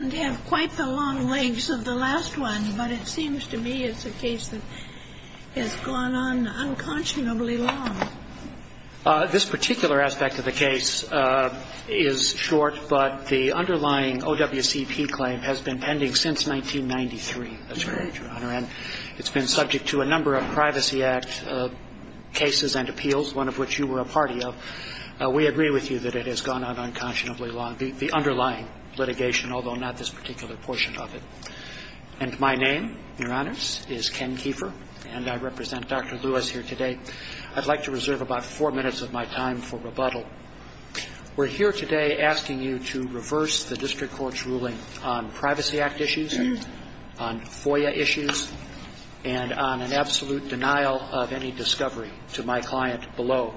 I don't have quite the long legs of the last one, but it seems to me it's a case that has gone on unconscionably long. This particular aspect of the case is short, but the underlying OWCP claim has been pending since 1993, that's correct, Your Honor. And it's been subject to a number of Privacy Act cases and appeals, one of which you were a party of. We agree with you that it has gone on unconscionably long, the underlying litigation, although not this particular portion of it. And my name, Your Honors, is Ken Keefer, and I represent Dr. Lewis here today. I'd like to reserve about four minutes of my time for rebuttal. We're here today asking you to reverse the district court's ruling on Privacy Act issues, on FOIA issues, and on an absolute denial of any discovery to my client below.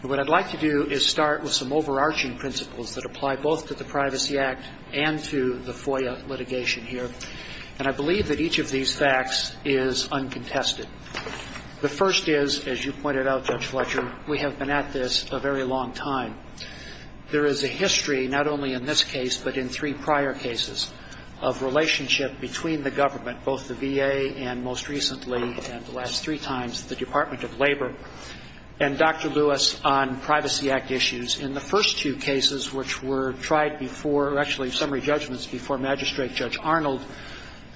And what I'd like to do is start with some overarching principles that apply both to the Privacy Act and to the FOIA litigation here. And I believe that each of these facts is uncontested. The first is, as you pointed out, Judge Fletcher, we have been at this a very long time. There is a history, not only in this case but in three prior cases, of relationship between the government, both the VA and most recently, and the last three times, the Department of Labor, and Dr. Lewis on Privacy Act issues. In the first two cases which were tried before or actually summary judgments before Magistrate Judge Arnold,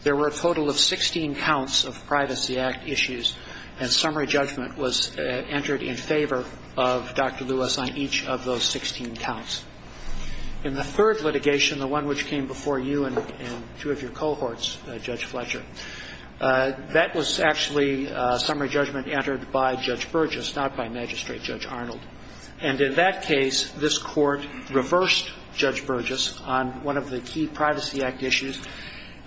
there were a total of 16 counts of Privacy Act issues. And summary judgment was entered in favor of Dr. Lewis on each of those 16 counts. In the third litigation, the one which came before you and two of your cohorts, Judge Fletcher, that was actually summary judgment entered by Judge Burgess, not by Magistrate Judge Arnold. And in that case, this Court reversed Judge Burgess on one of the key Privacy Act issues,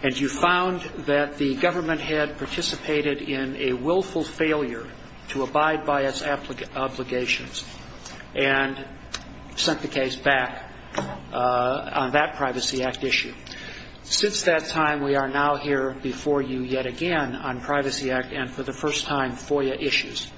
and you found that the government had participated in a willful failure to abide by its obligations and sent the case back on that Privacy Act issue. Since that time, we are now here before you yet again on Privacy Act and, for the first time, FOIA issues.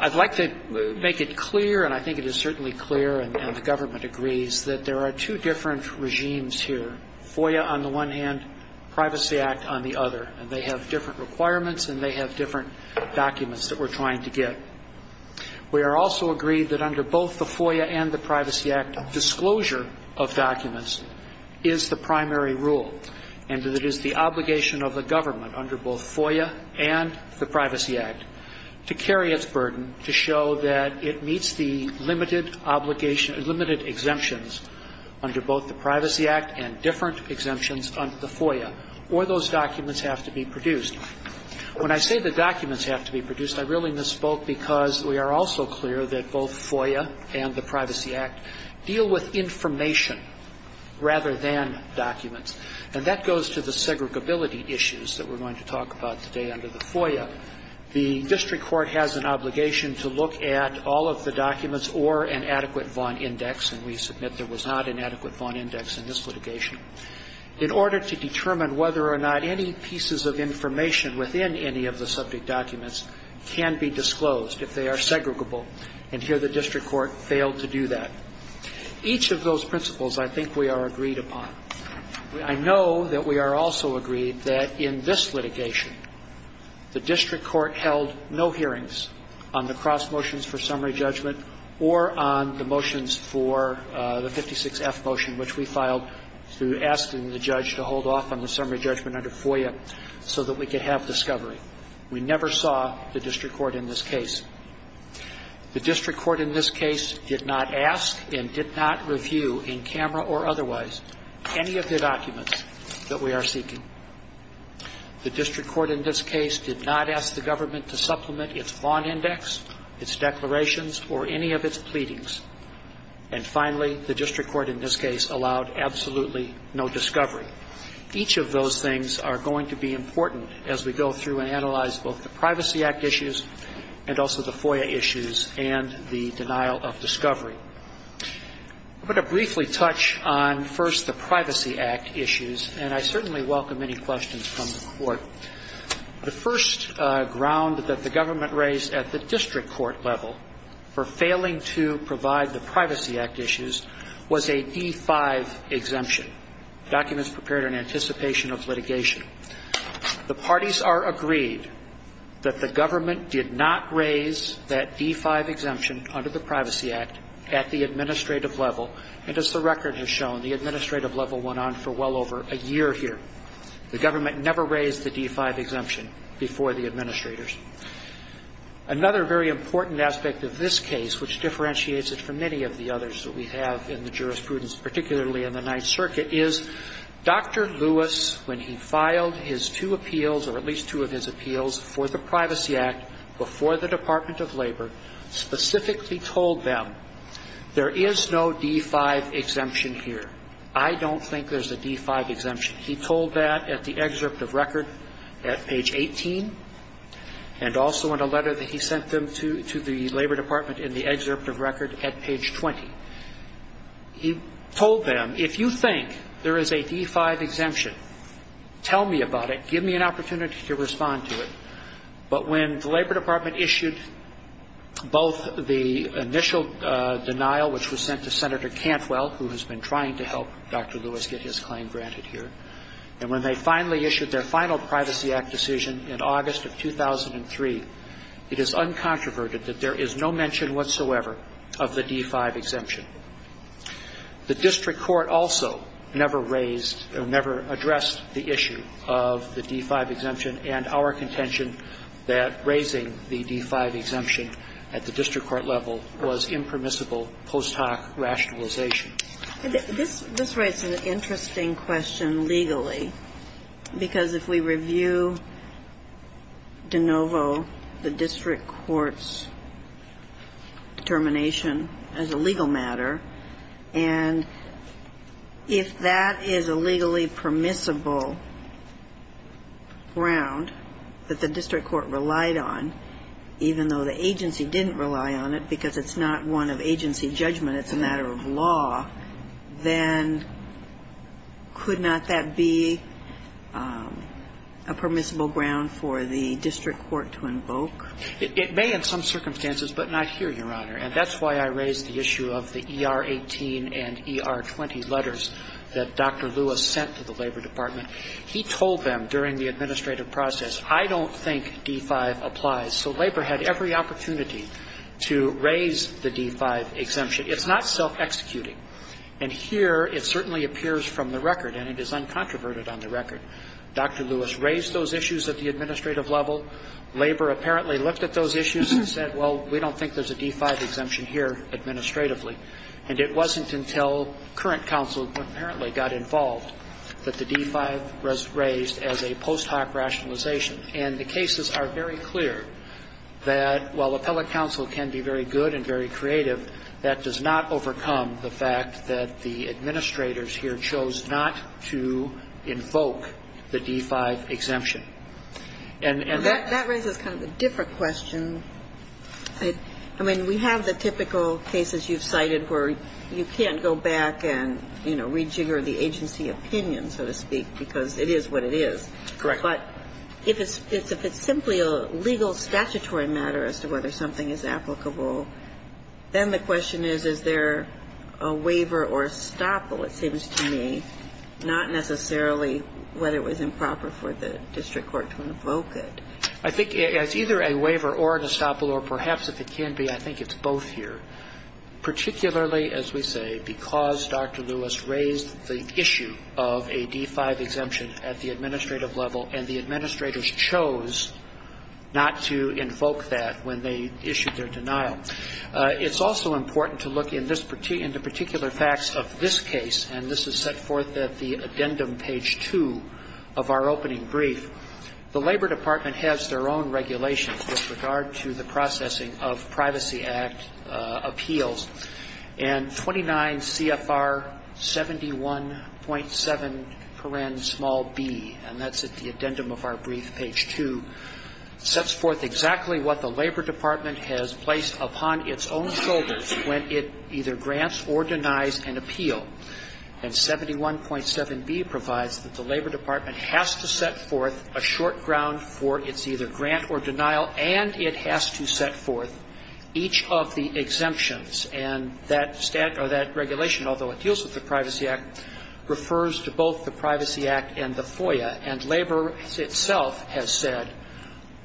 I'd like to make it clear, and I think it is certainly clear, and the government agrees, that there are two different regimes here, FOIA on the one hand, Privacy Act on the other, and they have different requirements and they have different documents that we're trying to get. We are also agreed that under both the FOIA and the Privacy Act, disclosure of documents is the primary rule, and that it is the obligation of the government under both FOIA and the Privacy Act to carry its burden to show that it meets the limited exemptions under both the Privacy Act and different exemptions under the FOIA, When I say the documents have to be produced, I really misspoke because we are also clear that both FOIA and the Privacy Act deal with information rather than documents. And that goes to the segregability issues that we're going to talk about today under the FOIA. The district court has an obligation to look at all of the documents or an adequate Vaughan index, and we submit there was not an adequate Vaughan index in this litigation. In order to determine whether or not any pieces of information within any of the subject documents can be disclosed if they are segregable, and here the district court failed to do that. Each of those principles I think we are agreed upon. I know that we are also agreed that in this litigation, the district court held no hearings on the cross motions for summary judgment or on the motions for the 56F motion, which we filed through asking the judge to hold off on the summary judgment under FOIA so that we could have discovery. We never saw the district court in this case. The district court in this case did not ask and did not review in camera or otherwise any of the documents that we are seeking. The district court in this case did not ask the government to supplement its Vaughan index, its declarations, or any of its pleadings. And finally, the district court in this case allowed absolutely no discovery. Each of those things are going to be important as we go through and analyze both the Privacy Act issues and also the FOIA issues and the denial of discovery. I'm going to briefly touch on first the Privacy Act issues, and I certainly welcome any questions from the court. The first ground that the government raised at the district court level for failing to provide the Privacy Act issues was a D-5 exemption, documents prepared in anticipation of litigation. The parties are agreed that the government did not raise that D-5 exemption under the Privacy Act at the administrative level, and as the record has shown, the administrative level went on for well over a year here. The government never raised the D-5 exemption before the administrators. Another very important aspect of this case, which differentiates it from many of the others that we have in the jurisprudence, particularly in the Ninth Circuit, is Dr. Lewis, when he filed his two appeals, or at least two of his appeals, for the Privacy Act before the Department of Labor, specifically told them, there is no D-5 exemption here. I don't think there's a D-5 exemption. He told that at the excerpt of record at page 18, and also in a letter that he sent them to the Labor Department in the excerpt of record at page 20. He told them, if you think there is a D-5 exemption, tell me about it. Give me an opportunity to respond to it. But when the Labor Department issued both the initial denial, which was sent to Senator Cantwell, who has been trying to help Dr. Lewis get his claim granted here, and when they finally issued their final Privacy Act decision in August of 2003, it is uncontroverted that there is no mention whatsoever of the D-5 exemption. The district court also never raised or never addressed the issue of the D-5 exemption, and our contention that raising the D-5 exemption at the district court level was impermissible post hoc rationalization. This raises an interesting question legally, because if we review de novo the district court's determination as a legal matter, and if that is a legally permissible ground that the district court relied on, even though the agency didn't rely on it because it's not one of agency judgment, it's a matter of law, then could not that be a permissible ground for the district court to invoke? It may in some circumstances, but not here, Your Honor. And that's why I raised the issue of the ER-18 and ER-20 letters that Dr. Lewis sent to the Labor Department. He told them during the administrative process, I don't think D-5 applies. So Labor had every opportunity to raise the D-5 exemption. It's not self-executing. And here it certainly appears from the record, and it is uncontroverted on the record. Dr. Lewis raised those issues at the administrative level. Labor apparently looked at those issues and said, well, we don't think there's a D-5 exemption here administratively. And it wasn't until current counsel apparently got involved that the D-5 was raised as a post hoc rationalization. And the cases are very clear that while appellate counsel can be very good and very creative, that does not overcome the fact that the administrators here chose not to invoke the D-5 exemption. And that raises kind of a different question. I mean, we have the typical cases you've cited where you can't go back and, you know, rejigger the agency opinion, so to speak, because it is what it is. Correct. But if it's simply a legal statutory matter as to whether something is applicable, then the question is, is there a waiver or a stop, it seems to me, not necessarily whether it was improper for the district court to invoke it. I think it's either a waiver or a stop, or perhaps if it can be, I think it's both here. Particularly, as we say, because Dr. Lewis raised the issue of a D-5 exemption at the administrative level, and the administrators chose not to invoke that when they issued their denial. It's also important to look in the particular facts of this case, and this is set forth at the addendum, page 2 of our opening brief. The Labor Department has their own regulations with regard to the processing of Privacy Act appeals. And 29 CFR 71.7pnb, and that's at the addendum of our brief, page 2, sets forth exactly what the Labor Department has placed upon its own shoulders when it either grants or denies an appeal. And 71.7b provides that the Labor Department has to set forth a short ground for its either grant or denial, and it has to set forth each of the exemptions. And that regulation, although it deals with the Privacy Act, refers to both the Privacy Act and the FOIA. And Labor itself has said,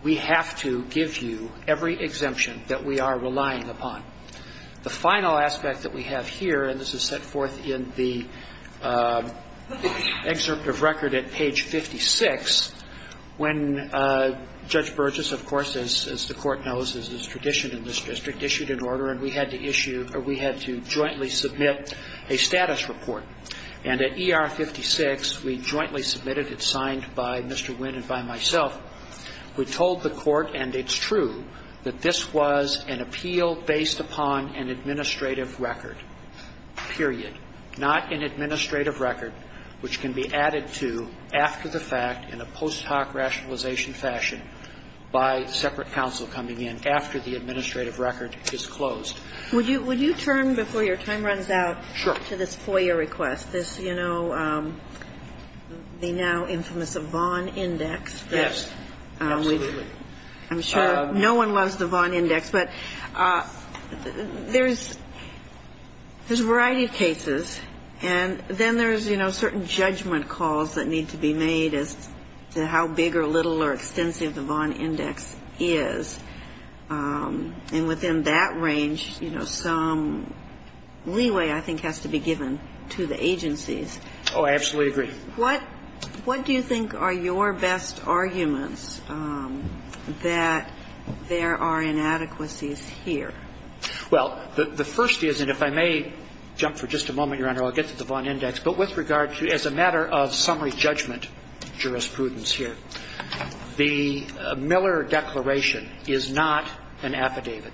we have to give you every exemption that we are relying upon. The final aspect that we have here, and this is set forth in the excerpt of record at page 56, when Judge Burgess, of course, as the Court knows, as is tradition in this district, issued an order and we had to issue or we had to jointly submit a status report. And at ER 56, we jointly submitted it, signed by Mr. Wynn and by myself. We told the Court, and it's true, that this was an appeal based upon an administrative record, period, not an administrative record which can be added to after the fact in a post hoc rationalization fashion by separate counsel coming in after the administrative record is closed. Would you turn, before your time runs out, to this FOIA request, this, you know, the now infamous Vaughan Index. Yes. Absolutely. I'm sure no one loves the Vaughan Index, but there's a variety of cases. And then there's, you know, certain judgment calls that need to be made as to how big or little or extensive the Vaughan Index is. And within that range, you know, some leeway, I think, has to be given to the agencies. Oh, I absolutely agree. What do you think are your best arguments that there are inadequacies here? Well, the first is, and if I may jump for just a moment, Your Honor, I'll get to the Vaughan Index, but with regard to as a matter of summary judgment jurisprudence here, the Miller Declaration is not an affidavit.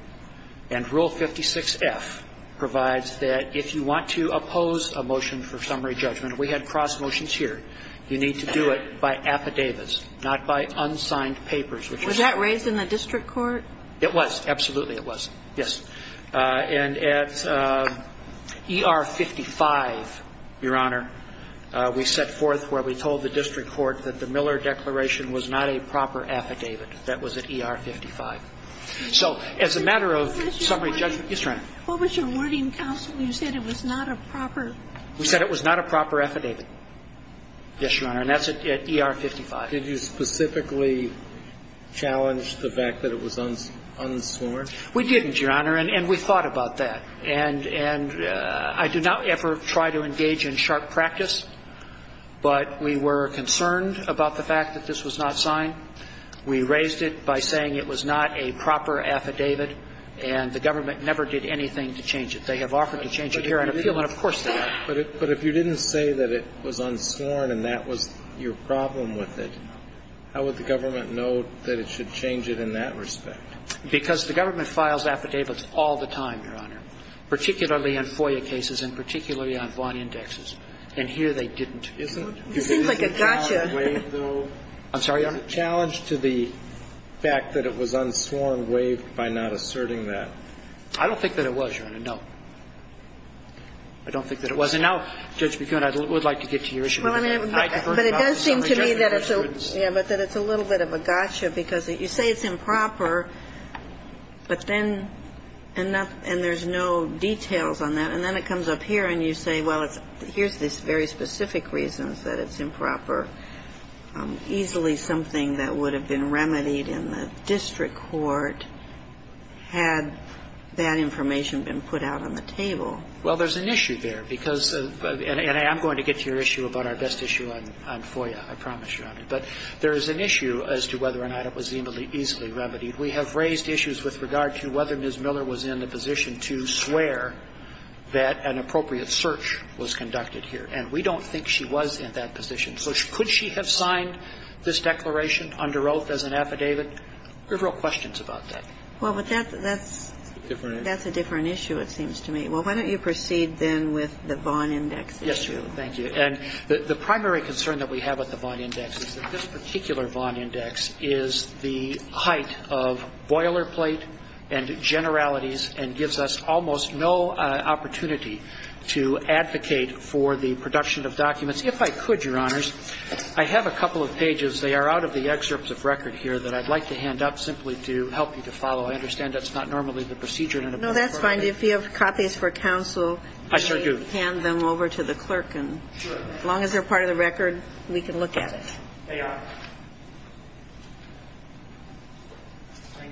And Rule 56-F provides that if you want to oppose a motion for summary judgment we had cross motions here, you need to do it by affidavits, not by unsigned papers, which is... Was that raised in the district court? It was. Absolutely, it was. Yes. And at ER 55, Your Honor, we set forth where we told the district court that the Miller Declaration was not a proper affidavit. That was at ER 55. So as a matter of summary judgment... Yes, Your Honor. What was your wording, counsel? You said it was not a proper... We said it was not a proper affidavit. Yes, Your Honor. And that's at ER 55. Did you specifically challenge the fact that it was unsworn? We didn't, Your Honor. And we thought about that. And I do not ever try to engage in sharp practice, but we were concerned about the fact that this was not signed. We raised it by saying it was not a proper affidavit, and the government never did anything to change it. They have offered to change it here, and of course they have. But if you didn't say that it was unsworn and that was your problem with it, how would the government know that it should change it in that respect? Because the government files affidavits all the time, Your Honor, particularly on FOIA cases and particularly on Vaughan indexes. And here they didn't. And I think that's a challenge, isn't it? It seems like a gotcha. I'm sorry, Your Honor? Is it a challenge to the fact that it was unsworn waived by not asserting that? I don't think that it was, Your Honor, no. I don't think that it was. And now, Judge McGoon, I would like to get to your issue. Well, I mean, but it does seem to me that it's a little bit of a gotcha because you say it's improper, but then and there's no details on that. And then it comes up here and you say, well, here's the very specific reasons that it's improper. Easily something that would have been remedied in the district court had that information been put out on the table. Well, there's an issue there, because, and I'm going to get to your issue about our best issue on FOIA. I promise you, Your Honor. But there is an issue as to whether or not it was easily remedied. We have raised issues with regard to whether Ms. Miller was in the position to swear that an appropriate search was conducted here. And we don't think she was in that position. So could she have signed this declaration under oath as an affidavit? There are real questions about that. Well, but that's a different issue, it seems to me. Well, why don't you proceed then with the Vaughn index issue. Yes, Your Honor. Thank you. And the primary concern that we have with the Vaughn index is that this particular Vaughn index is the height of boilerplate and generalities and gives us almost no opportunity to advocate for the production of documents. If I could, Your Honors, I have a couple of pages. They are out of the excerpts of record here that I'd like to hand up simply to help you to follow. I understand that's not normally the procedure in a book. No, that's fine. If you have copies for counsel, please hand them over to the clerk. Sure. As long as they're part of the record, we can look at it. They are. Thank you.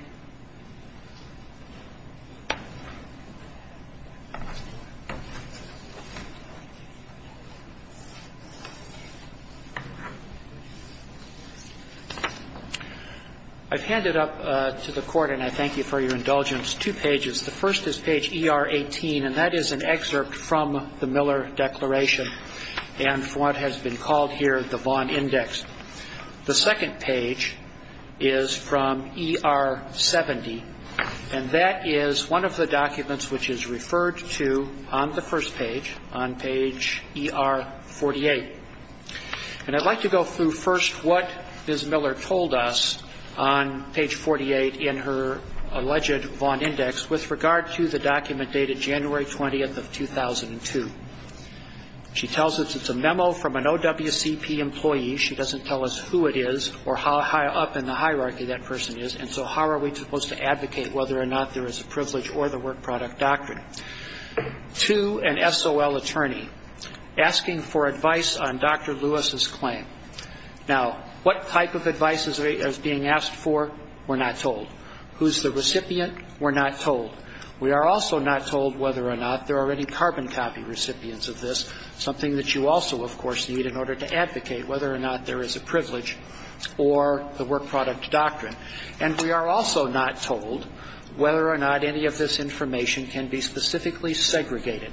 I've handed up to the Court, and I thank you for your indulgence, two pages. The first is page ER18, and that is an excerpt from the Miller declaration and what has been called here the Vaughn index. The second page is from ER70, and that is one of the documents which is referred to on the first page, on page ER48. And I'd like to go through first what Ms. Miller told us on page 48 in her alleged Vaughn index with regard to the document dated January 20th of 2002. She tells us it's a memo from an OWCP employee. She doesn't tell us who it is or how up in the hierarchy that person is, and so how are we supposed to advocate whether or not there is a privilege or the work product doctrine. To an SOL attorney asking for advice on Dr. Lewis's claim. Now, what type of advice is being asked for? We're not told. Who's the recipient? We're not told. We are also not told whether or not there are any carbon copy recipients of this, something that you also, of course, need in order to advocate whether or not there is a privilege or the work product doctrine. And we are also not told whether or not any of this information can be specifically segregated.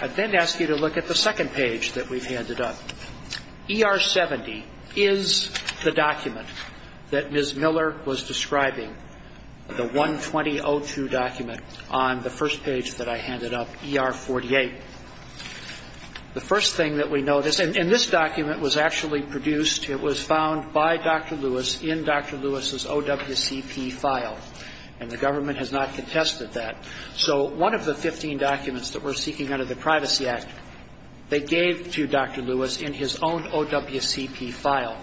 I then ask you to look at the second page that we've handed up. ER-70 is the document that Ms. Miller was describing, the 120-02 document on the first page that I handed up, ER-48. The first thing that we notice, and this document was actually produced, it was found by Dr. Lewis in Dr. Lewis's OWCP file, and the government has not contested that. So one of the 15 documents that we're seeking under the Privacy Act, they gave to Dr. Lewis in his own OWCP file.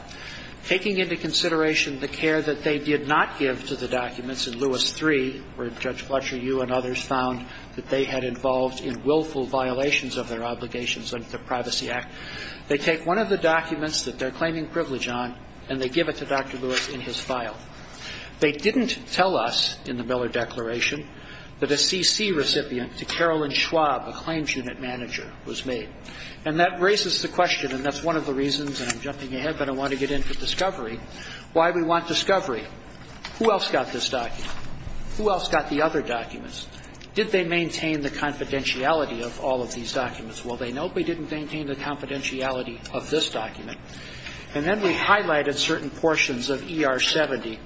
Taking into consideration the care that they did not give to the documents in Lewis III, where Judge Fletcher, you and others found that they had involved in willful violations of their obligations under the Privacy Act, they take one of the documents that they're claiming privilege on, and they give it to Dr. Lewis in his file. They didn't tell us in the Miller Declaration that a CC recipient to Carolyn Schwab, a claims unit manager, was made. And that raises the question, and that's one of the reasons I'm jumping ahead, but I want to get into discovery, why we want discovery. Who else got this document? Who else got the other documents? Did they maintain the confidentiality of all of these documents? Well, they notably didn't maintain the confidentiality of this document. And then we highlighted certain portions of ER-70,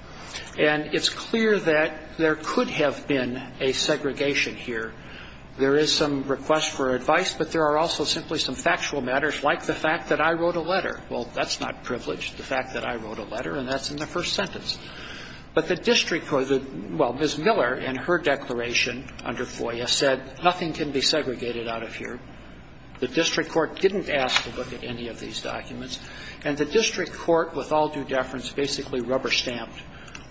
and it's clear that there could have been a segregation here. There is some request for advice, but there are also simply some factual matters like the fact that I wrote a letter. Well, that's not privilege, the fact that I wrote a letter, and that's in the first sentence. But the district court, well, Ms. Miller, in her declaration under FOIA, said nothing can be segregated out of here. The district court didn't ask to look at any of these documents. And the district court, with all due deference, basically rubber-stamped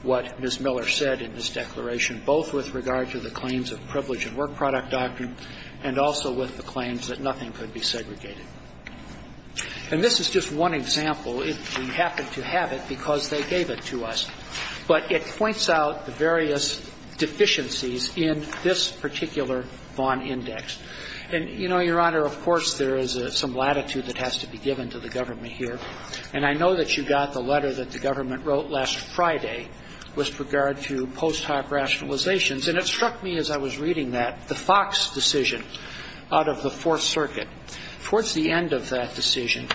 what Ms. Miller said in this declaration, both with regard to the claims of privilege and work product doctrine and also with the claims that nothing could be segregated. And this is just one example. We happen to have it because they gave it to us. But it points out the various deficiencies in this particular Vaughan Index. And, you know, Your Honor, of course, there is some latitude that has to be given to the government here. And I know that you got the letter that the government wrote last Friday with regard to post hoc rationalizations. And it struck me as I was reading that, the Fox decision out of the Fourth Circuit. Towards the end of that decision,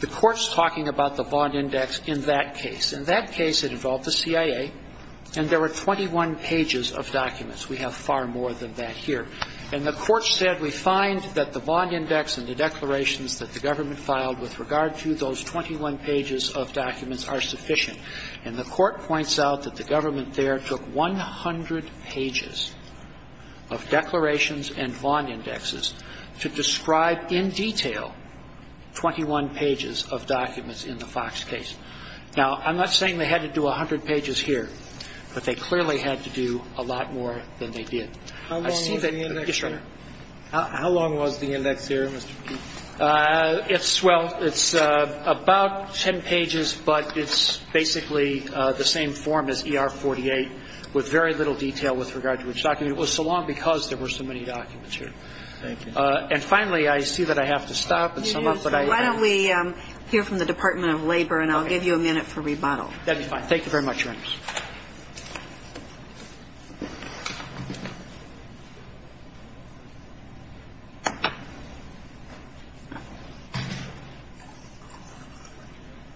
the Court's talking about the Vaughan Index in that case. In that case, it involved the CIA, and there were 21 pages of documents. We have far more than that here. And the Court said we find that the Vaughan Index and the declarations that the government filed with regard to those 21 pages of documents are sufficient. And the Court points out that the government there took 100 pages of declarations and Vaughan Indexes to describe in detail 21 pages of documents in the Fox case. Now, I'm not saying they had to do 100 pages here, but they clearly had to do a lot more than they did. I see that. Yes, Your Honor. How long was the index here, Mr. Keefe? Well, it's about 10 pages, but it's basically the same form as ER-48 with very little detail with regard to which document. It was so long because there were so many documents here. Thank you. And finally, I see that I have to stop and sum up. Why don't we hear from the Department of Labor, and I'll give you a minute for rebuttal. That would be fine. Thank you very much, Your Honor.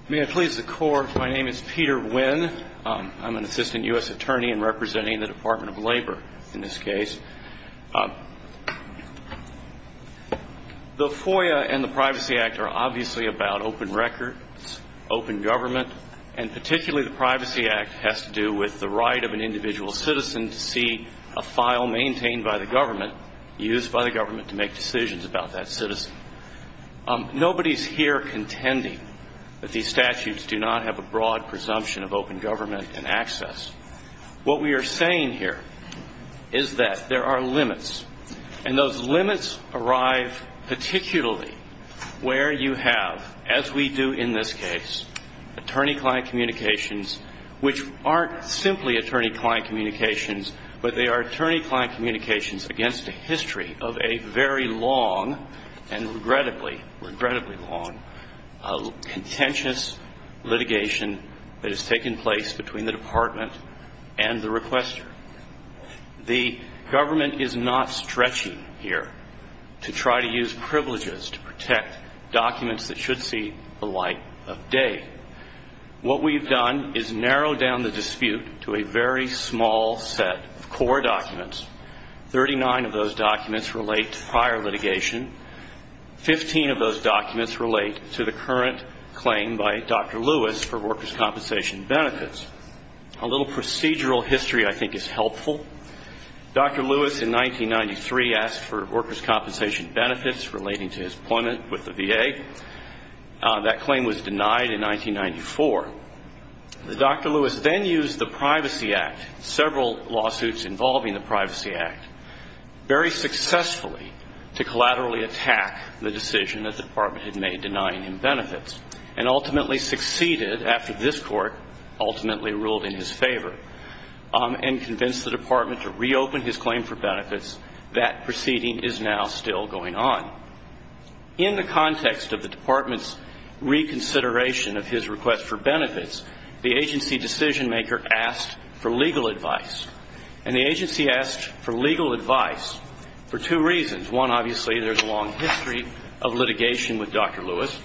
May I please the Court? My name is Peter Wynn. I'm an assistant U.S. attorney and representing the Department of Labor in this case. The FOIA and the Privacy Act are obviously about open records, open government, and particularly the Privacy Act has to do with the right of an individual citizen to see a file maintained by the government, used by the government to make decisions about that citizen. Nobody is here contending that these statutes do not have a broad presumption of open government and access. What we are saying here is that there are limits, and those limits arrive particularly where you have, as we do in this case, attorney-client communications, which aren't simply attorney-client communications, but they are attorney-client communications against a history of a very long and regrettably, regrettably long, contentious litigation that has taken place between the Department and the requester. The government is not stretchy here to try to use privileges to protect documents that should see the light of day. What we have done is narrow down the dispute to a very small set of core documents. Thirty-nine of those documents relate to prior litigation. Fifteen of those documents relate to the current claim by Dr. Lewis for workers' compensation benefits. A little procedural history I think is helpful. Dr. Lewis in 1993 asked for workers' compensation benefits relating to his appointment with the VA. That claim was denied in 1994. Dr. Lewis then used the Privacy Act, several lawsuits involving the Privacy Act, very successfully to collaterally attack the decision that the Department had made denying him benefits, and ultimately succeeded after this Court ultimately ruled in his favor and convinced the Department to reopen his claim for benefits. That proceeding is now still going on. In the context of the Department's reconsideration of his request for benefits, the agency decisionmaker asked for legal advice. And the agency asked for legal advice for two reasons. One, obviously, there's a long history of litigation with Dr. Lewis,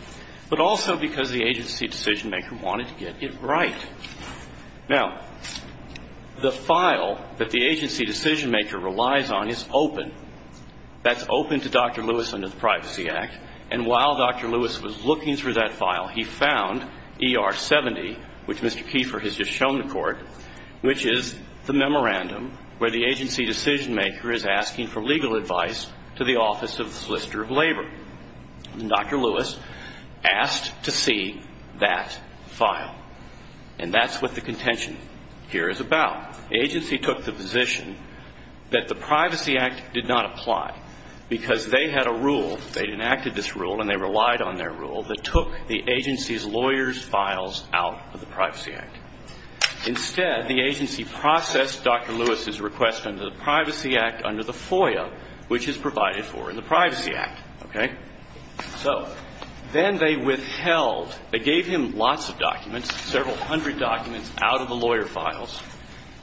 but also because the agency decisionmaker wanted to get it right. Now, the file that the agency decisionmaker relies on is open. That's open to Dr. Lewis under the Privacy Act. And while Dr. Lewis was looking through that file, he found ER-70, which Mr. Kiefer has just shown the Court, which is the memorandum where the agency decisionmaker is asking for legal advice to the Office of Solicitor of Labor. And Dr. Lewis asked to see that file. And that's what the contention here is about. Now, the agency took the position that the Privacy Act did not apply because they had a rule. They enacted this rule and they relied on their rule that took the agency's lawyer's files out of the Privacy Act. Instead, the agency processed Dr. Lewis' request under the Privacy Act under the FOIA, which is provided for in the Privacy Act. Okay? So then they withheld, they gave him lots of documents, several hundred documents out of the lawyer files.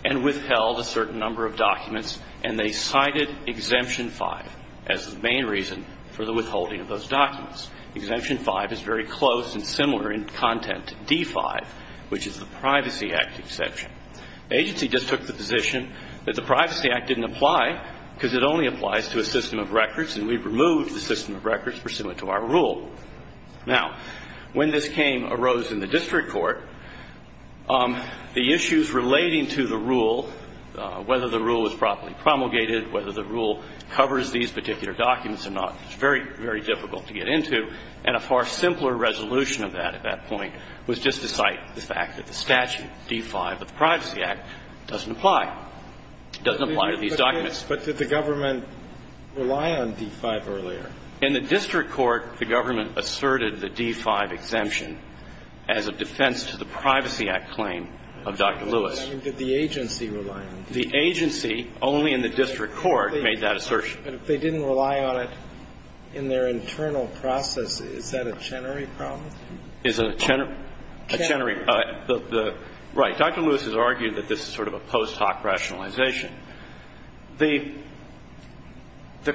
And withheld a certain number of documents and they cited Exemption 5 as the main reason for the withholding of those documents. Exemption 5 is very close and similar in content to D-5, which is the Privacy Act exception. The agency just took the position that the Privacy Act didn't apply because it only applies to a system of records and we've removed the system of records pursuant to our rule. Now, when this came, arose in the district court, the issues relating to the rule, whether the rule was properly promulgated, whether the rule covers these particular documents or not, was very, very difficult to get into. And a far simpler resolution of that at that point was just to cite the fact that the statute, D-5 of the Privacy Act, doesn't apply. It doesn't apply to these documents. But did the government rely on D-5 earlier? In the district court, the government asserted the D-5 exemption as a defense to the Privacy Act claim of Dr. Lewis. I mean, did the agency rely on it? The agency, only in the district court, made that assertion. But if they didn't rely on it in their internal process, is that a Chenery problem? Is it a Chenery? A Chenery. Right. Dr. Lewis has argued that this is sort of a post hoc rationalization. The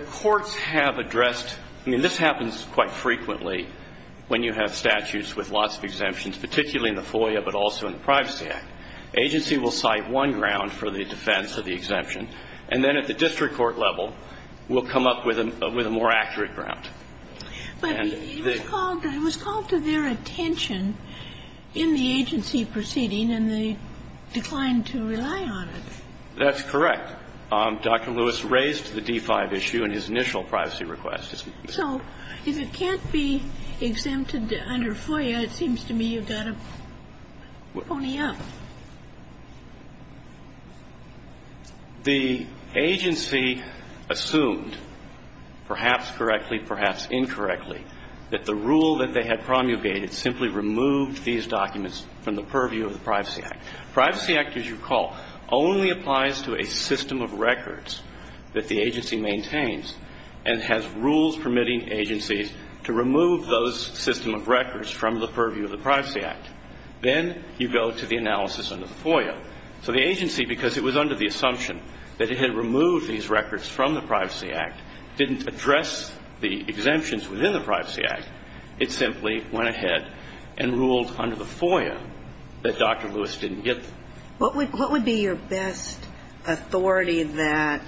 courts have addressed, I mean, this happens quite frequently when you have statutes with lots of exemptions, particularly in the FOIA, but also in the Privacy Act. Agency will cite one ground for the defense of the exemption, and then at the district court level, we'll come up with a more accurate ground. But it was called to their attention in the agency proceeding, and they declined to rely on it. That's correct. Dr. Lewis raised the D-5 issue in his initial privacy request. So if it can't be exempted under FOIA, it seems to me you've got to pony up. The agency assumed, perhaps correctly, perhaps incorrectly, that the rule that they had promulgated simply removed these documents from the purview of the Privacy Act. Privacy Act, as you recall, only applies to a system of records that the agency maintains and has rules permitting agencies to remove those system of records from the purview of the Privacy Act. Then you go to the analysis under the FOIA. So the agency, because it was under the assumption that it had removed these records from the Privacy Act, didn't address the exemptions within the Privacy Act. It simply went ahead and ruled under the FOIA that Dr. Lewis didn't get them. What would be your best authority that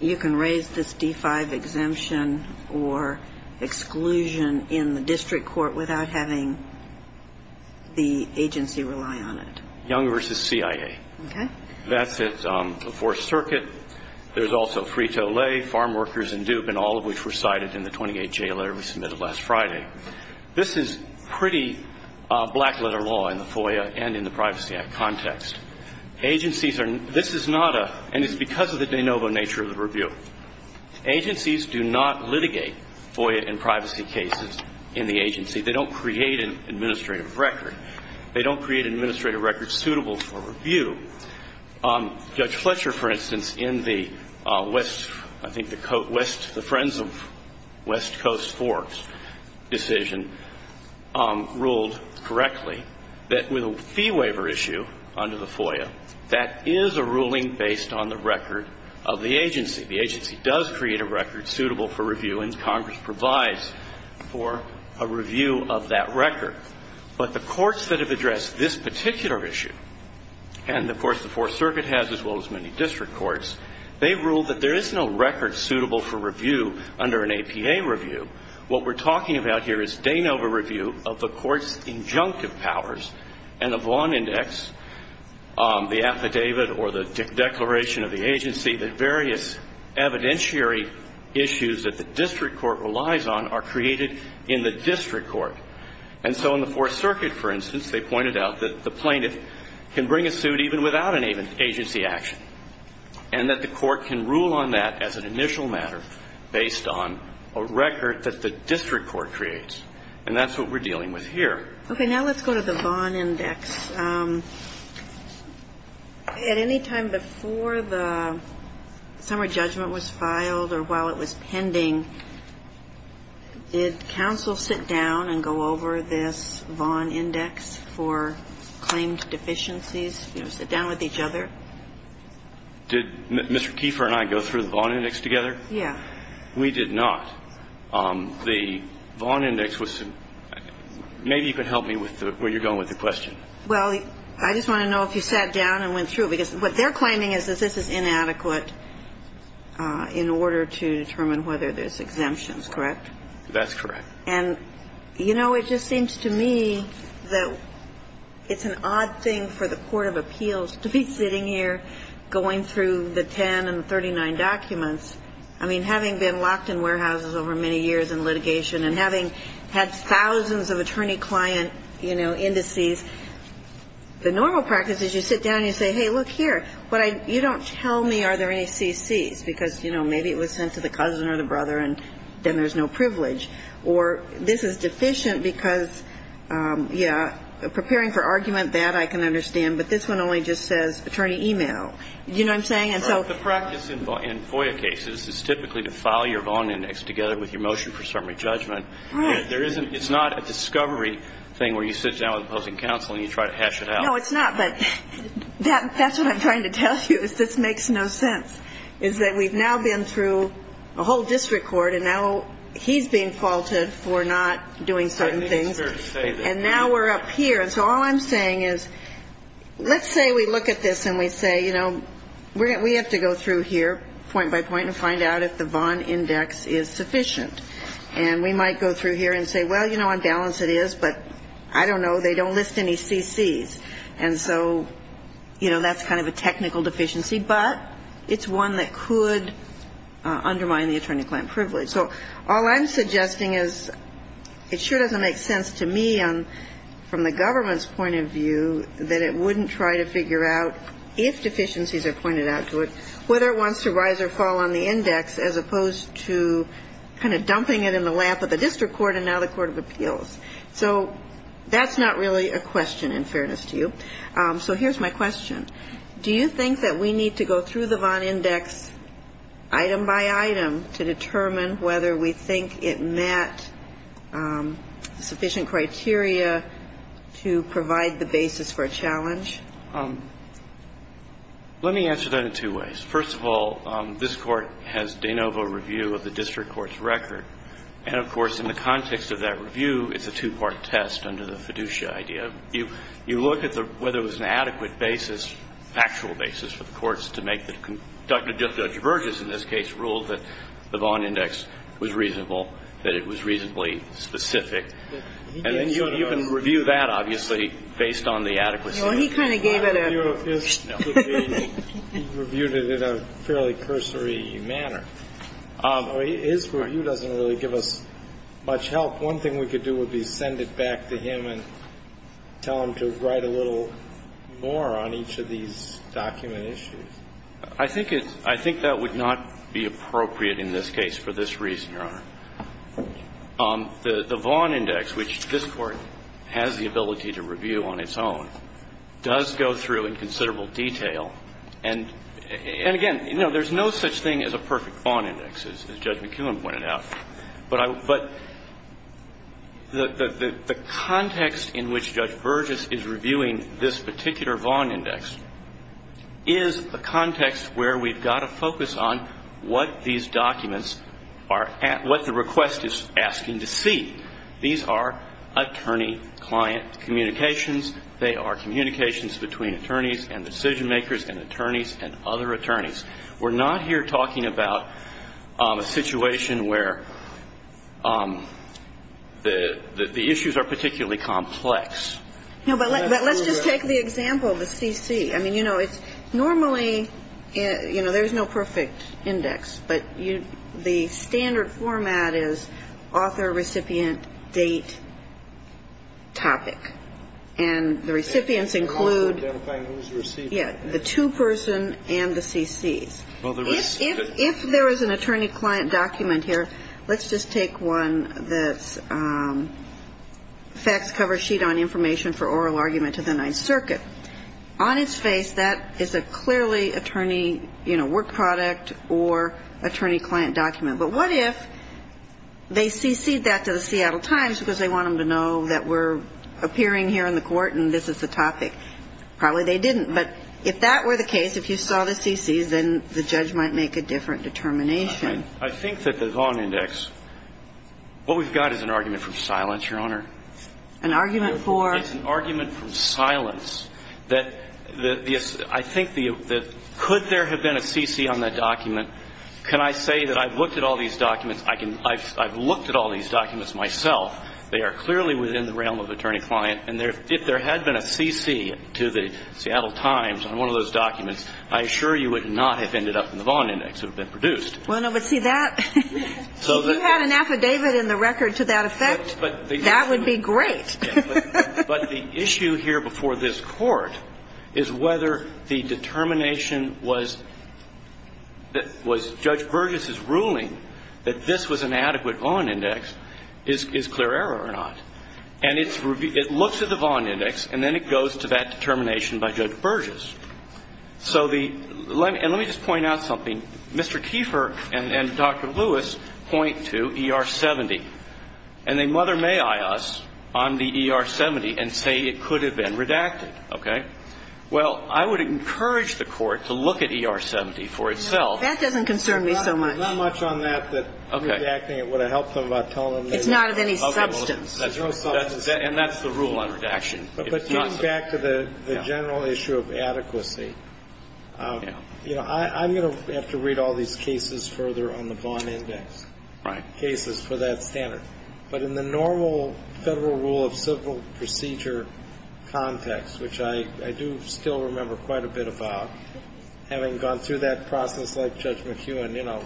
you can raise this D-5 exemption or exclusion in the district court without having the agency rely on it? Young v. CIA. Okay. That's at the Fourth Circuit. There's also Frito-Lay, Farm Workers, and Duke, and all of which were cited in the 28-J letter we submitted last Friday. This is pretty black-letter law in the FOIA and in the Privacy Act context. Agencies are ñ this is not a ñ and it's because of the de novo nature of the review. Agencies do not litigate FOIA and privacy cases in the agency. They don't create an administrative record. They don't create an administrative record suitable for review. Judge Fletcher, for instance, in the west ñ I think the west ñ the Friends of West Coast Forks decision ruled correctly that with a fee waiver issue under the FOIA, that is a ruling based on the record of the agency. The agency does create a record suitable for review, and Congress provides for a review of that record. But the courts that have addressed this particular issue, and, of course, the Fourth Circuit has as well as many district courts, they ruled that there is no record suitable for review under an APA review. What we're talking about here is de novo review of the court's injunctive powers and the Vaughan Index, the affidavit or the declaration of the agency, the various evidentiary issues that the district court relies on are created in the district court. And so in the Fourth Circuit, for instance, they pointed out that the plaintiff can bring a suit even without an agency action and that the court can rule on that as an initial matter based on a record that the district court creates. And that's what we're dealing with here. Okay. Now let's go to the Vaughan Index. At any time before the summer judgment was filed or while it was pending, did counsel sit down and go over this Vaughan Index for claimed deficiencies, you know, sit down with each other? Did Mr. Kiefer and I go through the Vaughan Index together? Yeah. We did not. The Vaughan Index was some – maybe you can help me with where you're going with the question. Well, I just want to know if you sat down and went through it, because what they're claiming is that this is inadequate in order to determine whether there's exemptions, correct? That's correct. And, you know, it just seems to me that it's an odd thing for the court of appeals to be sitting here going through the 10 and 39 documents. I mean, having been locked in warehouses over many years in litigation and having had thousands of attorney-client, you know, indices, the normal practice is you sit down and you say, hey, look here, you don't tell me are there any CCs, because, you know, maybe it was sent to the cousin or the brother and then there's no privilege. Or this is deficient because, yeah, preparing for argument, that I can understand, but this one only just says attorney e-mail. Do you know what I'm saying? The practice in FOIA cases is typically to file your bond index together with your motion for summary judgment. Right. It's not a discovery thing where you sit down with opposing counsel and you try to hash it out. No, it's not, but that's what I'm trying to tell you is this makes no sense, is that we've now been through a whole district court and now he's being faulted for not doing certain things. And now we're up here. And so all I'm saying is let's say we look at this and we say, you know, we have to go through here point by point and find out if the bond index is sufficient. And we might go through here and say, well, you know, on balance it is, but I don't know, they don't list any CCs. And so, you know, that's kind of a technical deficiency, but it's one that could undermine the attorney-client privilege. So all I'm suggesting is it sure doesn't make sense to me from the government's point of view that it wouldn't try to figure out, if deficiencies are pointed out to it, whether it wants to rise or fall on the index as opposed to kind of dumping it in the lap of the district court and now the court of appeals. So that's not really a question, in fairness to you. So here's my question. Do you think that we need to go through the bond index item by item to determine whether we think it met sufficient criteria to provide the basis for a challenge? Let me answer that in two ways. First of all, this Court has de novo review of the district court's record. And, of course, in the context of that review, it's a two-part test under the fiduciary idea. You look at whether it was an adequate basis, factual basis for the courts, to make the conduct of Judge Burgess, in this case, rule that the bond index was reasonable, that it was reasonably specific. And then you can review that, obviously, based on the adequacy. Well, he kind of gave it a... He reviewed it in a fairly cursory manner. His review doesn't really give us much help. One thing we could do would be send it back to him and tell him to write a little more on each of these document issues. I think it's – I think that would not be appropriate in this case for this reason, Your Honor. The bond index, which this Court has the ability to review on its own, does go through in considerable detail. And again, you know, there's no such thing as a perfect bond index, as Judge McKeown pointed out. But I – but the context in which Judge Burgess is reviewing this particular bond index is a context where we've got to focus on what these documents are – what the request is asking to see. These are attorney-client communications. They are communications between attorneys and decision-makers and attorneys and other attorneys. We're not here talking about a situation where the issues are particularly complex. No, but let's just take the example of the CC. I mean, you know, it's – normally, you know, there's no perfect index. But the standard format is author, recipient, date, topic. And the recipients include... If there was an attorney-client document here – let's just take one that's facts cover sheet on information for oral argument to the Ninth Circuit. On its face, that is a clearly attorney, you know, work product or attorney-client document. But what if they CC'd that to the Seattle Times because they want them to know that we're appearing here in the Court and this is the topic? Probably they didn't. But if that were the case, if you saw the CCs, then the judge might make a different determination. I think that the Vaughan Index – what we've got is an argument from silence, Your Honor. An argument for? It's an argument from silence that the – I think the – could there have been a CC on that document? Can I say that I've looked at all these documents? I can – I've looked at all these documents myself. They are clearly within the realm of attorney-client. And if there had been a CC to the Seattle Times on one of those documents, I assure you it would not have ended up in the Vaughan Index. It would have been produced. Well, no, but see, that – if you had an affidavit in the record to that effect, that would be great. But the issue here before this Court is whether the determination was Judge Burgess's ruling that this was an adequate Vaughan Index is clear error or not. And it's – it looks at the Vaughan Index, and then it goes to that determination by Judge Burgess. So the – and let me just point out something. Mr. Kieffer and Dr. Lewis point to ER70. And they mother-may-I us on the ER70 and say it could have been redacted. Okay? Well, I would encourage the Court to look at ER70 for itself. That doesn't concern me so much. Not much on that, that redacting it would have helped them by telling them they could have done it. It's not the rule on redaction. It's not of any substance. And that's the rule on redaction. But getting back to the general issue of adequacy, you know, I'm going to have to read all these cases further on the Vaughan Index. Right. Cases for that standard. But in the normal Federal rule of civil procedure context, which I do still remember quite a bit about, having gone through that process like Judge McEwen, you know,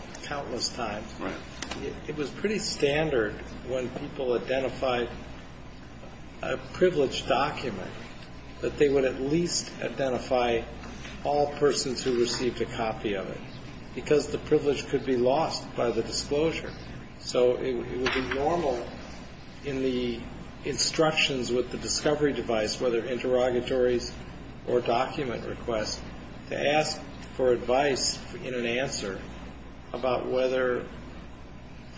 it was pretty standard when people identified a privileged document that they would at least identify all persons who received a copy of it because the privilege could be lost by the disclosure. So it would be normal in the instructions with the discovery device, whether interrogatories or document requests, to ask for advice in an answer about whether those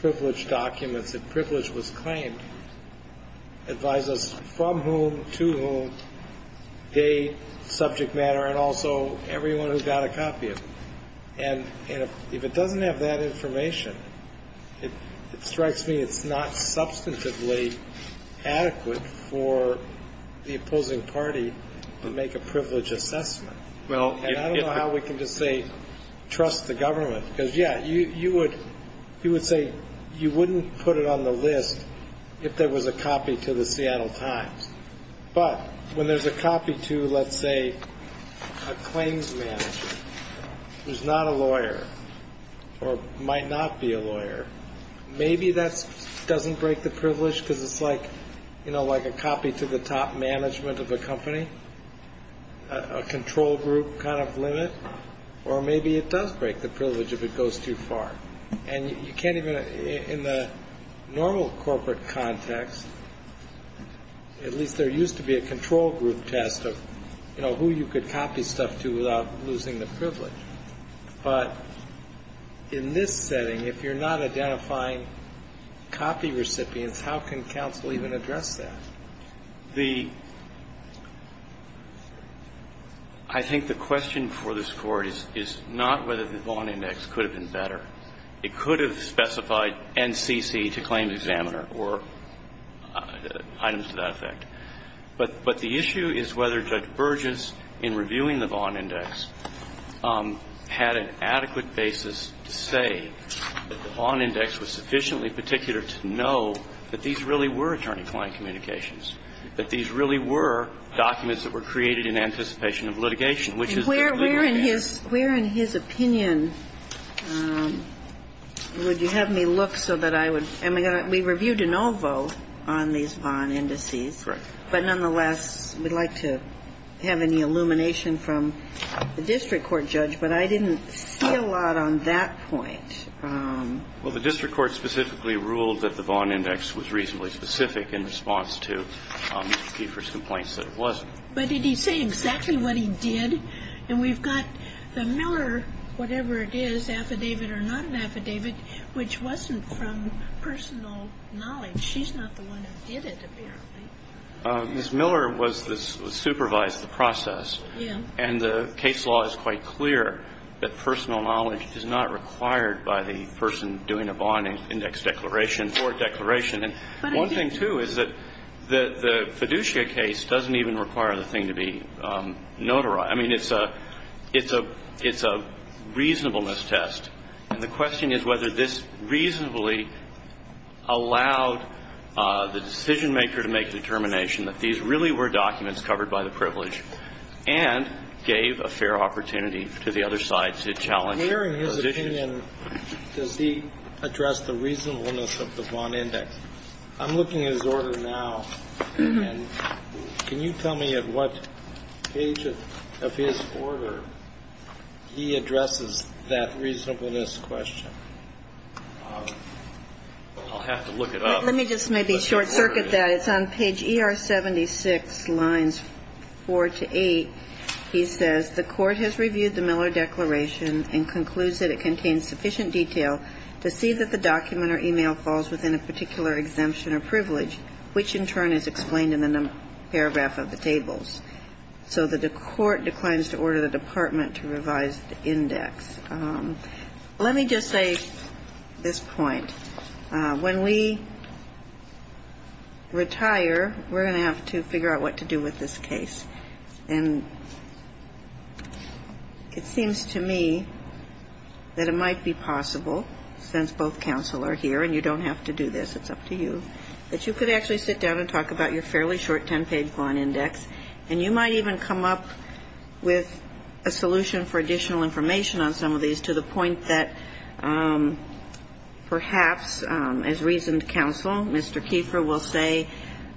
privileged documents, if privilege was claimed, advise us from whom, to whom, date, subject matter, and also everyone who got a copy of it. And if it doesn't have that information, it strikes me it's not substantively adequate for the opposing party to make a privilege assessment. And I don't know how we can just say trust the government. Because, yeah, you would say you wouldn't put it on the list if there was a copy to the Seattle Times. But when there's a copy to, let's say, a claims manager who's not a lawyer or might not be a lawyer, maybe that doesn't break the privilege because it's like a copy to the top management of a company, a control group kind of limit. Or maybe it does break the privilege if it goes too far. And you can't even in the normal corporate context, at least there used to be a control group test of, you know, who you could copy stuff to without losing the privilege. But in this setting, if you're not identifying copy recipients, how can counsel even address that? I think the question for this Court is not whether the Vaughn Index could have been better. It could have specified NCC to claims examiner or items to that effect. But the issue is whether Judge Burgess, in reviewing the Vaughn Index, had an adequate basis to say that the Vaughn Index was sufficiently particular to know that these really were attorney-client communications, that these really were documents that were created in anticipation of litigation, which is the legal case. And where in his opinion would you have me look so that I would – and we reviewed de novo on these Vaughn Indices. Correct. But nonetheless, we'd like to have any illumination from the district court judge. But I didn't see a lot on that point. Well, the district court specifically ruled that the Vaughn Index was reasonably specific in response to Mr. Kieffer's complaints that it wasn't. But did he say exactly what he did? And we've got the Miller, whatever it is, affidavit or not an affidavit, which wasn't from personal knowledge. She's not the one who did it, apparently. Ms. Miller was the – supervised the process. Yeah. And the case law is quite clear that personal knowledge is not required by the person doing a Vaughn Index declaration or a declaration. And one thing, too, is that the fiduciary case doesn't even require the thing to be notarized. I mean, it's a reasonableness test. And the question is whether this reasonably allowed the decisionmaker to make the determination that these really were documents covered by the privilege and gave a fair opportunity to the other side to challenge their position. Where, in his opinion, does he address the reasonableness of the Vaughn Index? I'm looking at his order now, and can you tell me at what page of his order he addresses that reasonableness question? I'll have to look it up. Let me just maybe short-circuit that. It's on page ER76, lines 4 to 8. He says, The Court has reviewed the Miller Declaration and concludes that it contains sufficient detail to see that the document or e-mail falls within a particular exemption or privilege, which in turn is explained in the paragraph of the tables. Let me just say this point. When we retire, we're going to have to figure out what to do with this case. And it seems to me that it might be possible, since both counsel are here and you don't have to do this, it's up to you, that you could actually sit down and talk about your fairly short 10-page Vaughn Index, and you might even come up with a solution for additional information on some of these to the point that perhaps, as reasoned counsel, Mr. Kieffer will say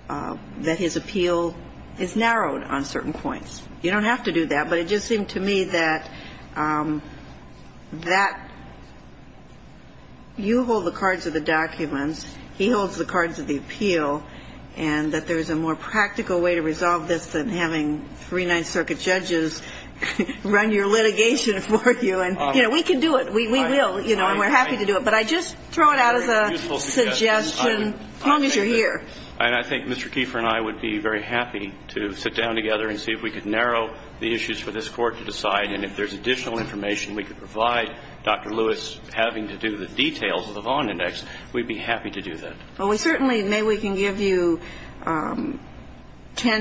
that his appeal is narrowed on certain points. You don't have to do that, but it just seemed to me that that you hold the cards of the documents, he holds the cards of the appeal, and that there's a more practical way to resolve this than having three Ninth Circuit judges run your litigation for you. And, you know, we can do it. We will, you know, and we're happy to do it. But I just throw it out as a suggestion, as long as you're here. And I think Mr. Kieffer and I would be very happy to sit down together and see if we could narrow the issues for this Court to decide, and if there's additional information we could provide, Dr. Lewis having to do the details of the Vaughn Index, we'd be happy to do that. Well, we certainly, maybe we can give you 10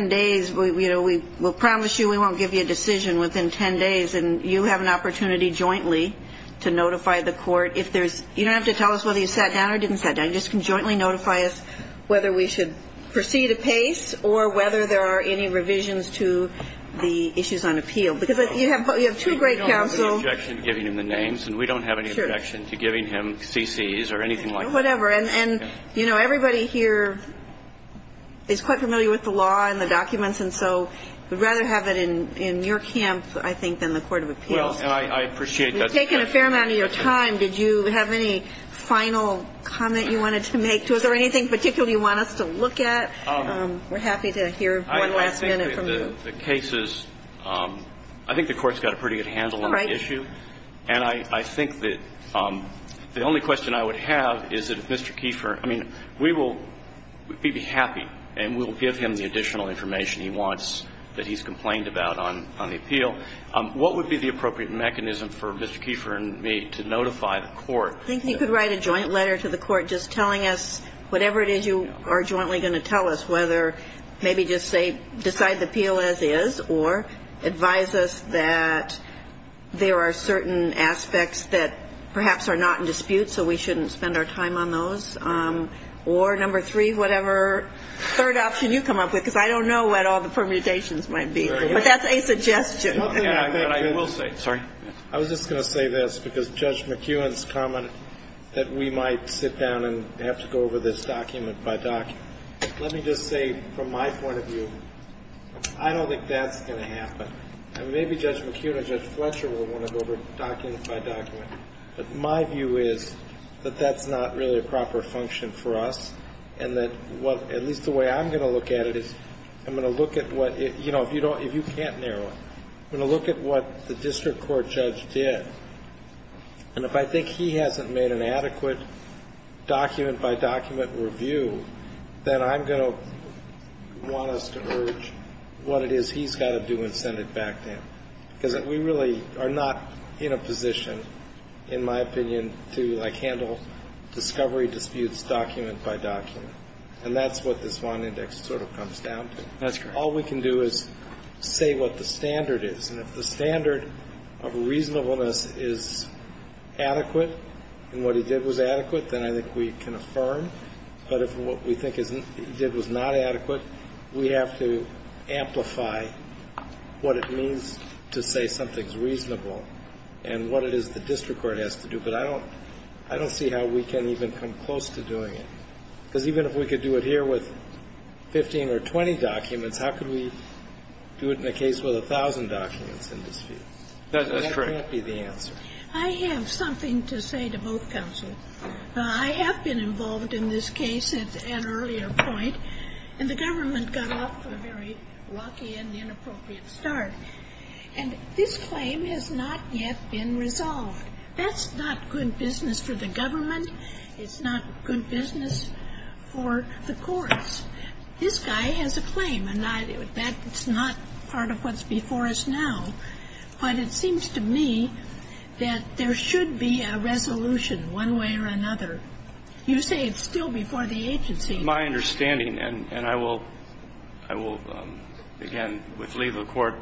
days. You know, we'll promise you we won't give you a decision within 10 days, and you have an opportunity jointly to notify the Court if there's, you don't have to tell us whether you sat down or didn't sit down. You just can jointly notify us whether we should proceed apace or whether there are any revisions to the issues on appeal. Because you have two great counsels. We don't have any objection to giving him the names, and we don't have any objection to giving him CCs or anything like that. Whatever. And, you know, everybody here is quite familiar with the law and the documents, and so we'd rather have it in your camp, I think, than the court of appeals. Well, and I appreciate that. We've taken a fair amount of your time. Did you have any final comment you wanted to make to us, or anything in particular you want us to look at? We're happy to hear one last minute from you. The case is, I think the Court's got a pretty good handle on the issue. All right. And I think that the only question I would have is that if Mr. Kieffer, I mean, we will be happy and we'll give him the additional information he wants that he's complained about on the appeal. What would be the appropriate mechanism for Mr. Kieffer and me to notify the Court? I think you could write a joint letter to the Court just telling us whatever it is you are jointly going to tell us, whether maybe just say decide the appeal as is, or advise us that there are certain aspects that perhaps are not in dispute, so we shouldn't spend our time on those. Or number three, whatever third option you come up with, because I don't know what all the permutations might be. But that's a suggestion. I was just going to say this, because Judge McEwen's comment that we might sit down and have to go over this document by document. Let me just say from my point of view, I don't think that's going to happen. I mean, maybe Judge McEwen and Judge Fletcher will want to go over it document by document. But my view is that that's not really a proper function for us, and that at least the way I'm going to look at it is I'm going to look at what, you know, if you can't narrow it, I'm going to look at what the district court judge did. And if I think he hasn't made an adequate document by document review, then I'm going to want us to urge what it is he's got to do and send it back to him. Because we really are not in a position, in my opinion, to, like, handle discovery disputes document by document. And that's what this Vaughan Index sort of comes down to. All we can do is say what the standard is. And if the standard of reasonableness is adequate and what he did was adequate, then I think we can affirm. But if what we think he did was not adequate, we have to amplify what it means to say something's reasonable and what it is the district court has to do. But I don't see how we can even come close to doing it. Because even if we could do it here with 15 or 20 documents, how could we do it in a case with 1,000 documents in dispute? That can't be the answer. I have something to say to both counsels. I have been involved in this case at an earlier point, and the government got off to a very lucky and inappropriate start. And this claim has not yet been resolved. That's not good business for the government. It's not good business for the courts. This guy has a claim, and that's not part of what's before us now. But it seems to me that there should be a resolution one way or another. You say it's still before the agency. My understanding, and I will begin with legal court,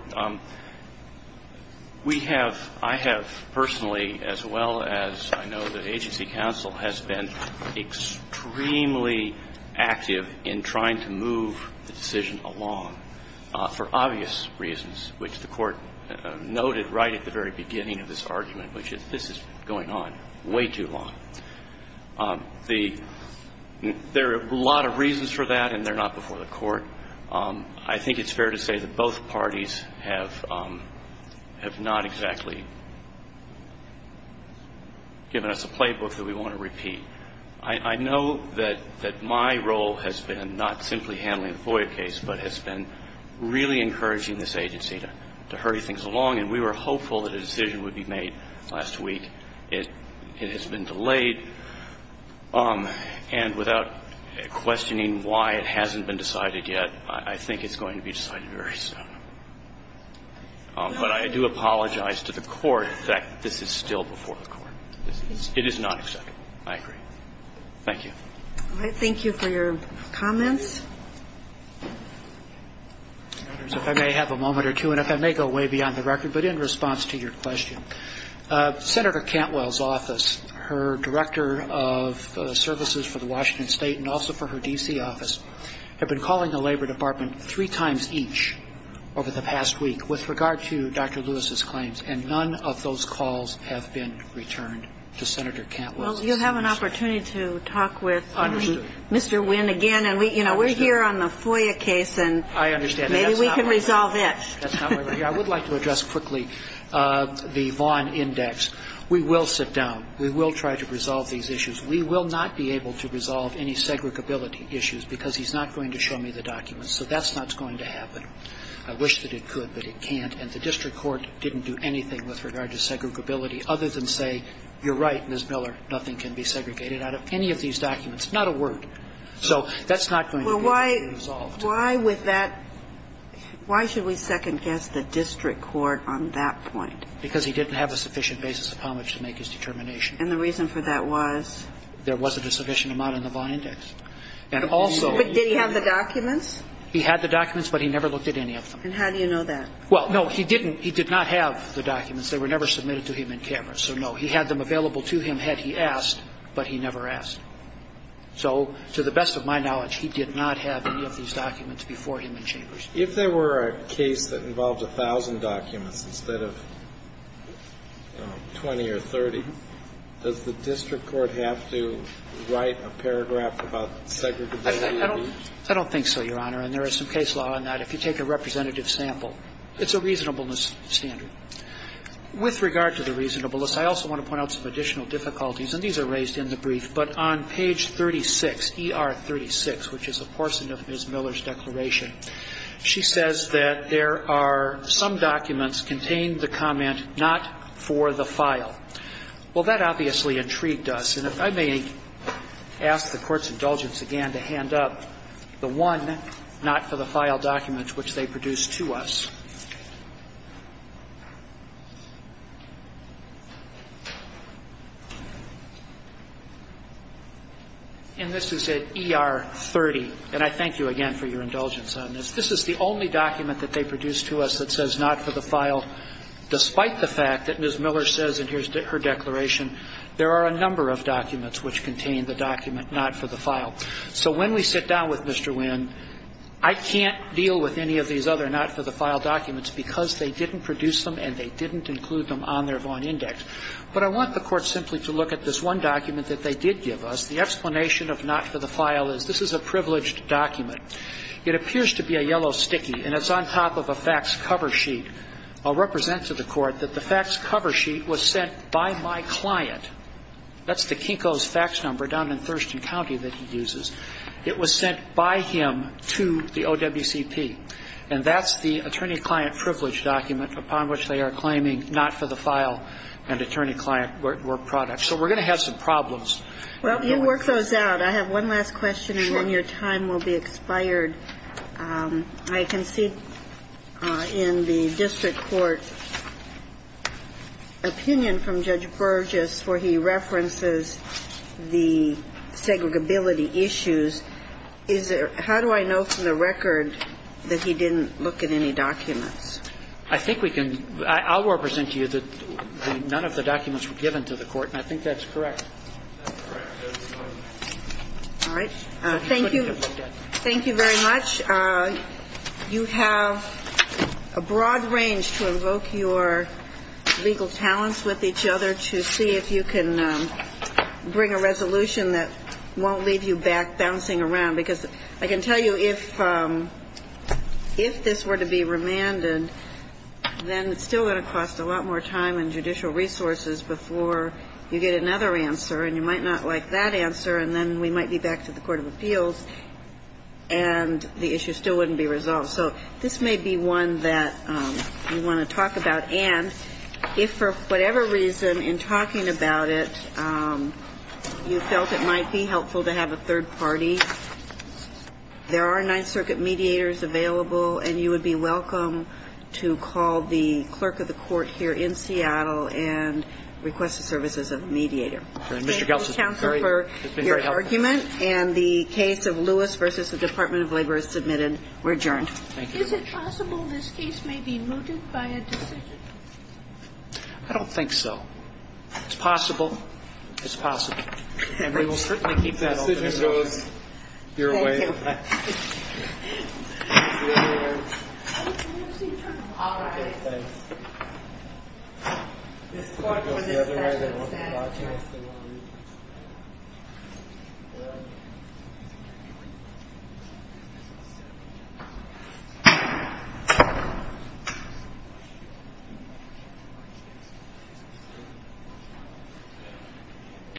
we have, I have personally as well as I know the agency counsel has been extremely active in trying to move the decision along for obvious reasons, which the Court noted right at the very beginning of this argument, which is this is going on way too long. The – there are a lot of reasons for that, and they're not before the Court. I think it's fair to say that both parties have not exactly given us a playbook that we want to repeat. I know that my role has been not simply handling the FOIA case, but has been really encouraging this agency to hurry things along, and we were hopeful that a decision would be made last week. It has been delayed. And without questioning why it hasn't been decided yet, I think it's going to be decided very soon. But I do apologize to the Court that this is still before the Court. It is not expected. I agree. Thank you. All right. Thank you for your comments. If I may have a moment or two, and if I may go way beyond the record, but in response to your question, Senator Cantwell's office, her director of services for the Washington State and also for her D.C. office, have been calling the Labor Department three times each over the past week with regard to Dr. Lewis's claims, and none of those calls have been returned to Senator Cantwell. Well, you'll have an opportunity to talk with Mr. Wynn again. And, you know, we're here on the FOIA case, and maybe we can resolve it. That's not why we're here. I would like to address quickly the Vaughn Index. We will sit down. We will try to resolve these issues. We will not be able to resolve any segregability issues because he's not going to show me the documents. So that's not going to happen. I wish that it could, but it can't. And the district court didn't do anything with regard to segregability other than say, you're right, Ms. Miller, nothing can be segregated out of any of these documents, not a word. So that's not going to be resolved. Why would that – why should we second-guess the district court on that point? Because he didn't have a sufficient basis upon which to make his determination. And the reason for that was? There wasn't a sufficient amount in the Vaughn Index. And also – But did he have the documents? He had the documents, but he never looked at any of them. And how do you know that? Well, no, he didn't. He did not have the documents. They were never submitted to him in cameras. So, no, he had them available to him had he asked, but he never asked. So, to the best of my knowledge, he did not have any of these documents before him in chambers. If there were a case that involved 1,000 documents instead of 20 or 30, does the district court have to write a paragraph about segregability? I don't think so, Your Honor. And there is some case law on that. If you take a representative sample, it's a reasonableness standard. With regard to the reasonableness, I also want to point out some additional difficulties, and these are raised in the brief. But on page 36, ER 36, which is a portion of Ms. Miller's declaration, she says that there are some documents contain the comment, not for the file. Well, that obviously intrigued us. And if I may ask the Court's indulgence again to hand up the one not-for-the-file document which they produced to us. And this is at ER 30. And I thank you again for your indulgence on this. This is the only document that they produced to us that says not-for-the-file despite the fact that Ms. Miller says in her declaration there are a number of documents which contain the document not-for-the-file. So when we sit down with Mr. Winn, I can't deal with any of these other not-for-the-file documents because they didn't produce them and they didn't include them on their Vaughan Index. But I want the Court simply to look at this one document that they did give us. The explanation of not-for-the-file is this is a privileged document. It appears to be a yellow sticky, and it's on top of a fax cover sheet. I'll represent to the Court that the fax cover sheet was sent by my client. That's the Kinko's fax number down in Thurston County that he uses. It was sent by him to the OWCP. And that's the attorney-client privilege document upon which they are claiming not-for-the-file and attorney-client were products. So we're going to have some problems. Well, you work those out. I have one last question and then your time will be expired. I can see in the district court opinion from Judge Burgess where he references the segregability issues. How do I know from the record that he didn't look at any documents? I think we can. I'll represent to you that none of the documents were given to the Court, and I think that's correct. All right. Thank you. Thank you very much. You have a broad range to invoke your legal talents with each other to see if you can bring a resolution that won't leave you back bouncing around. Because I can tell you if this were to be remanded, then it's still going to cost a lot more time and judicial resources before you get another answer, and you might not like that answer, and then we might be back to the Court of Appeals, and the issue still wouldn't be resolved. So this may be one that you want to talk about. And if for whatever reason in talking about it you felt it might be helpful to have a third party, there are Ninth Circuit mediators available, and you would be welcome to call the clerk of the court here in Seattle and request the services of a mediator. Thank you, counsel, for your argument. And the case of Lewis v. The Department of Labor is submitted. We're adjourned. Thank you. Is it possible this case may be mooted by a decision? I don't think so. It's possible. It's possible. And we will certainly keep that open. The decision goes your way. Thank you. All right. Thanks.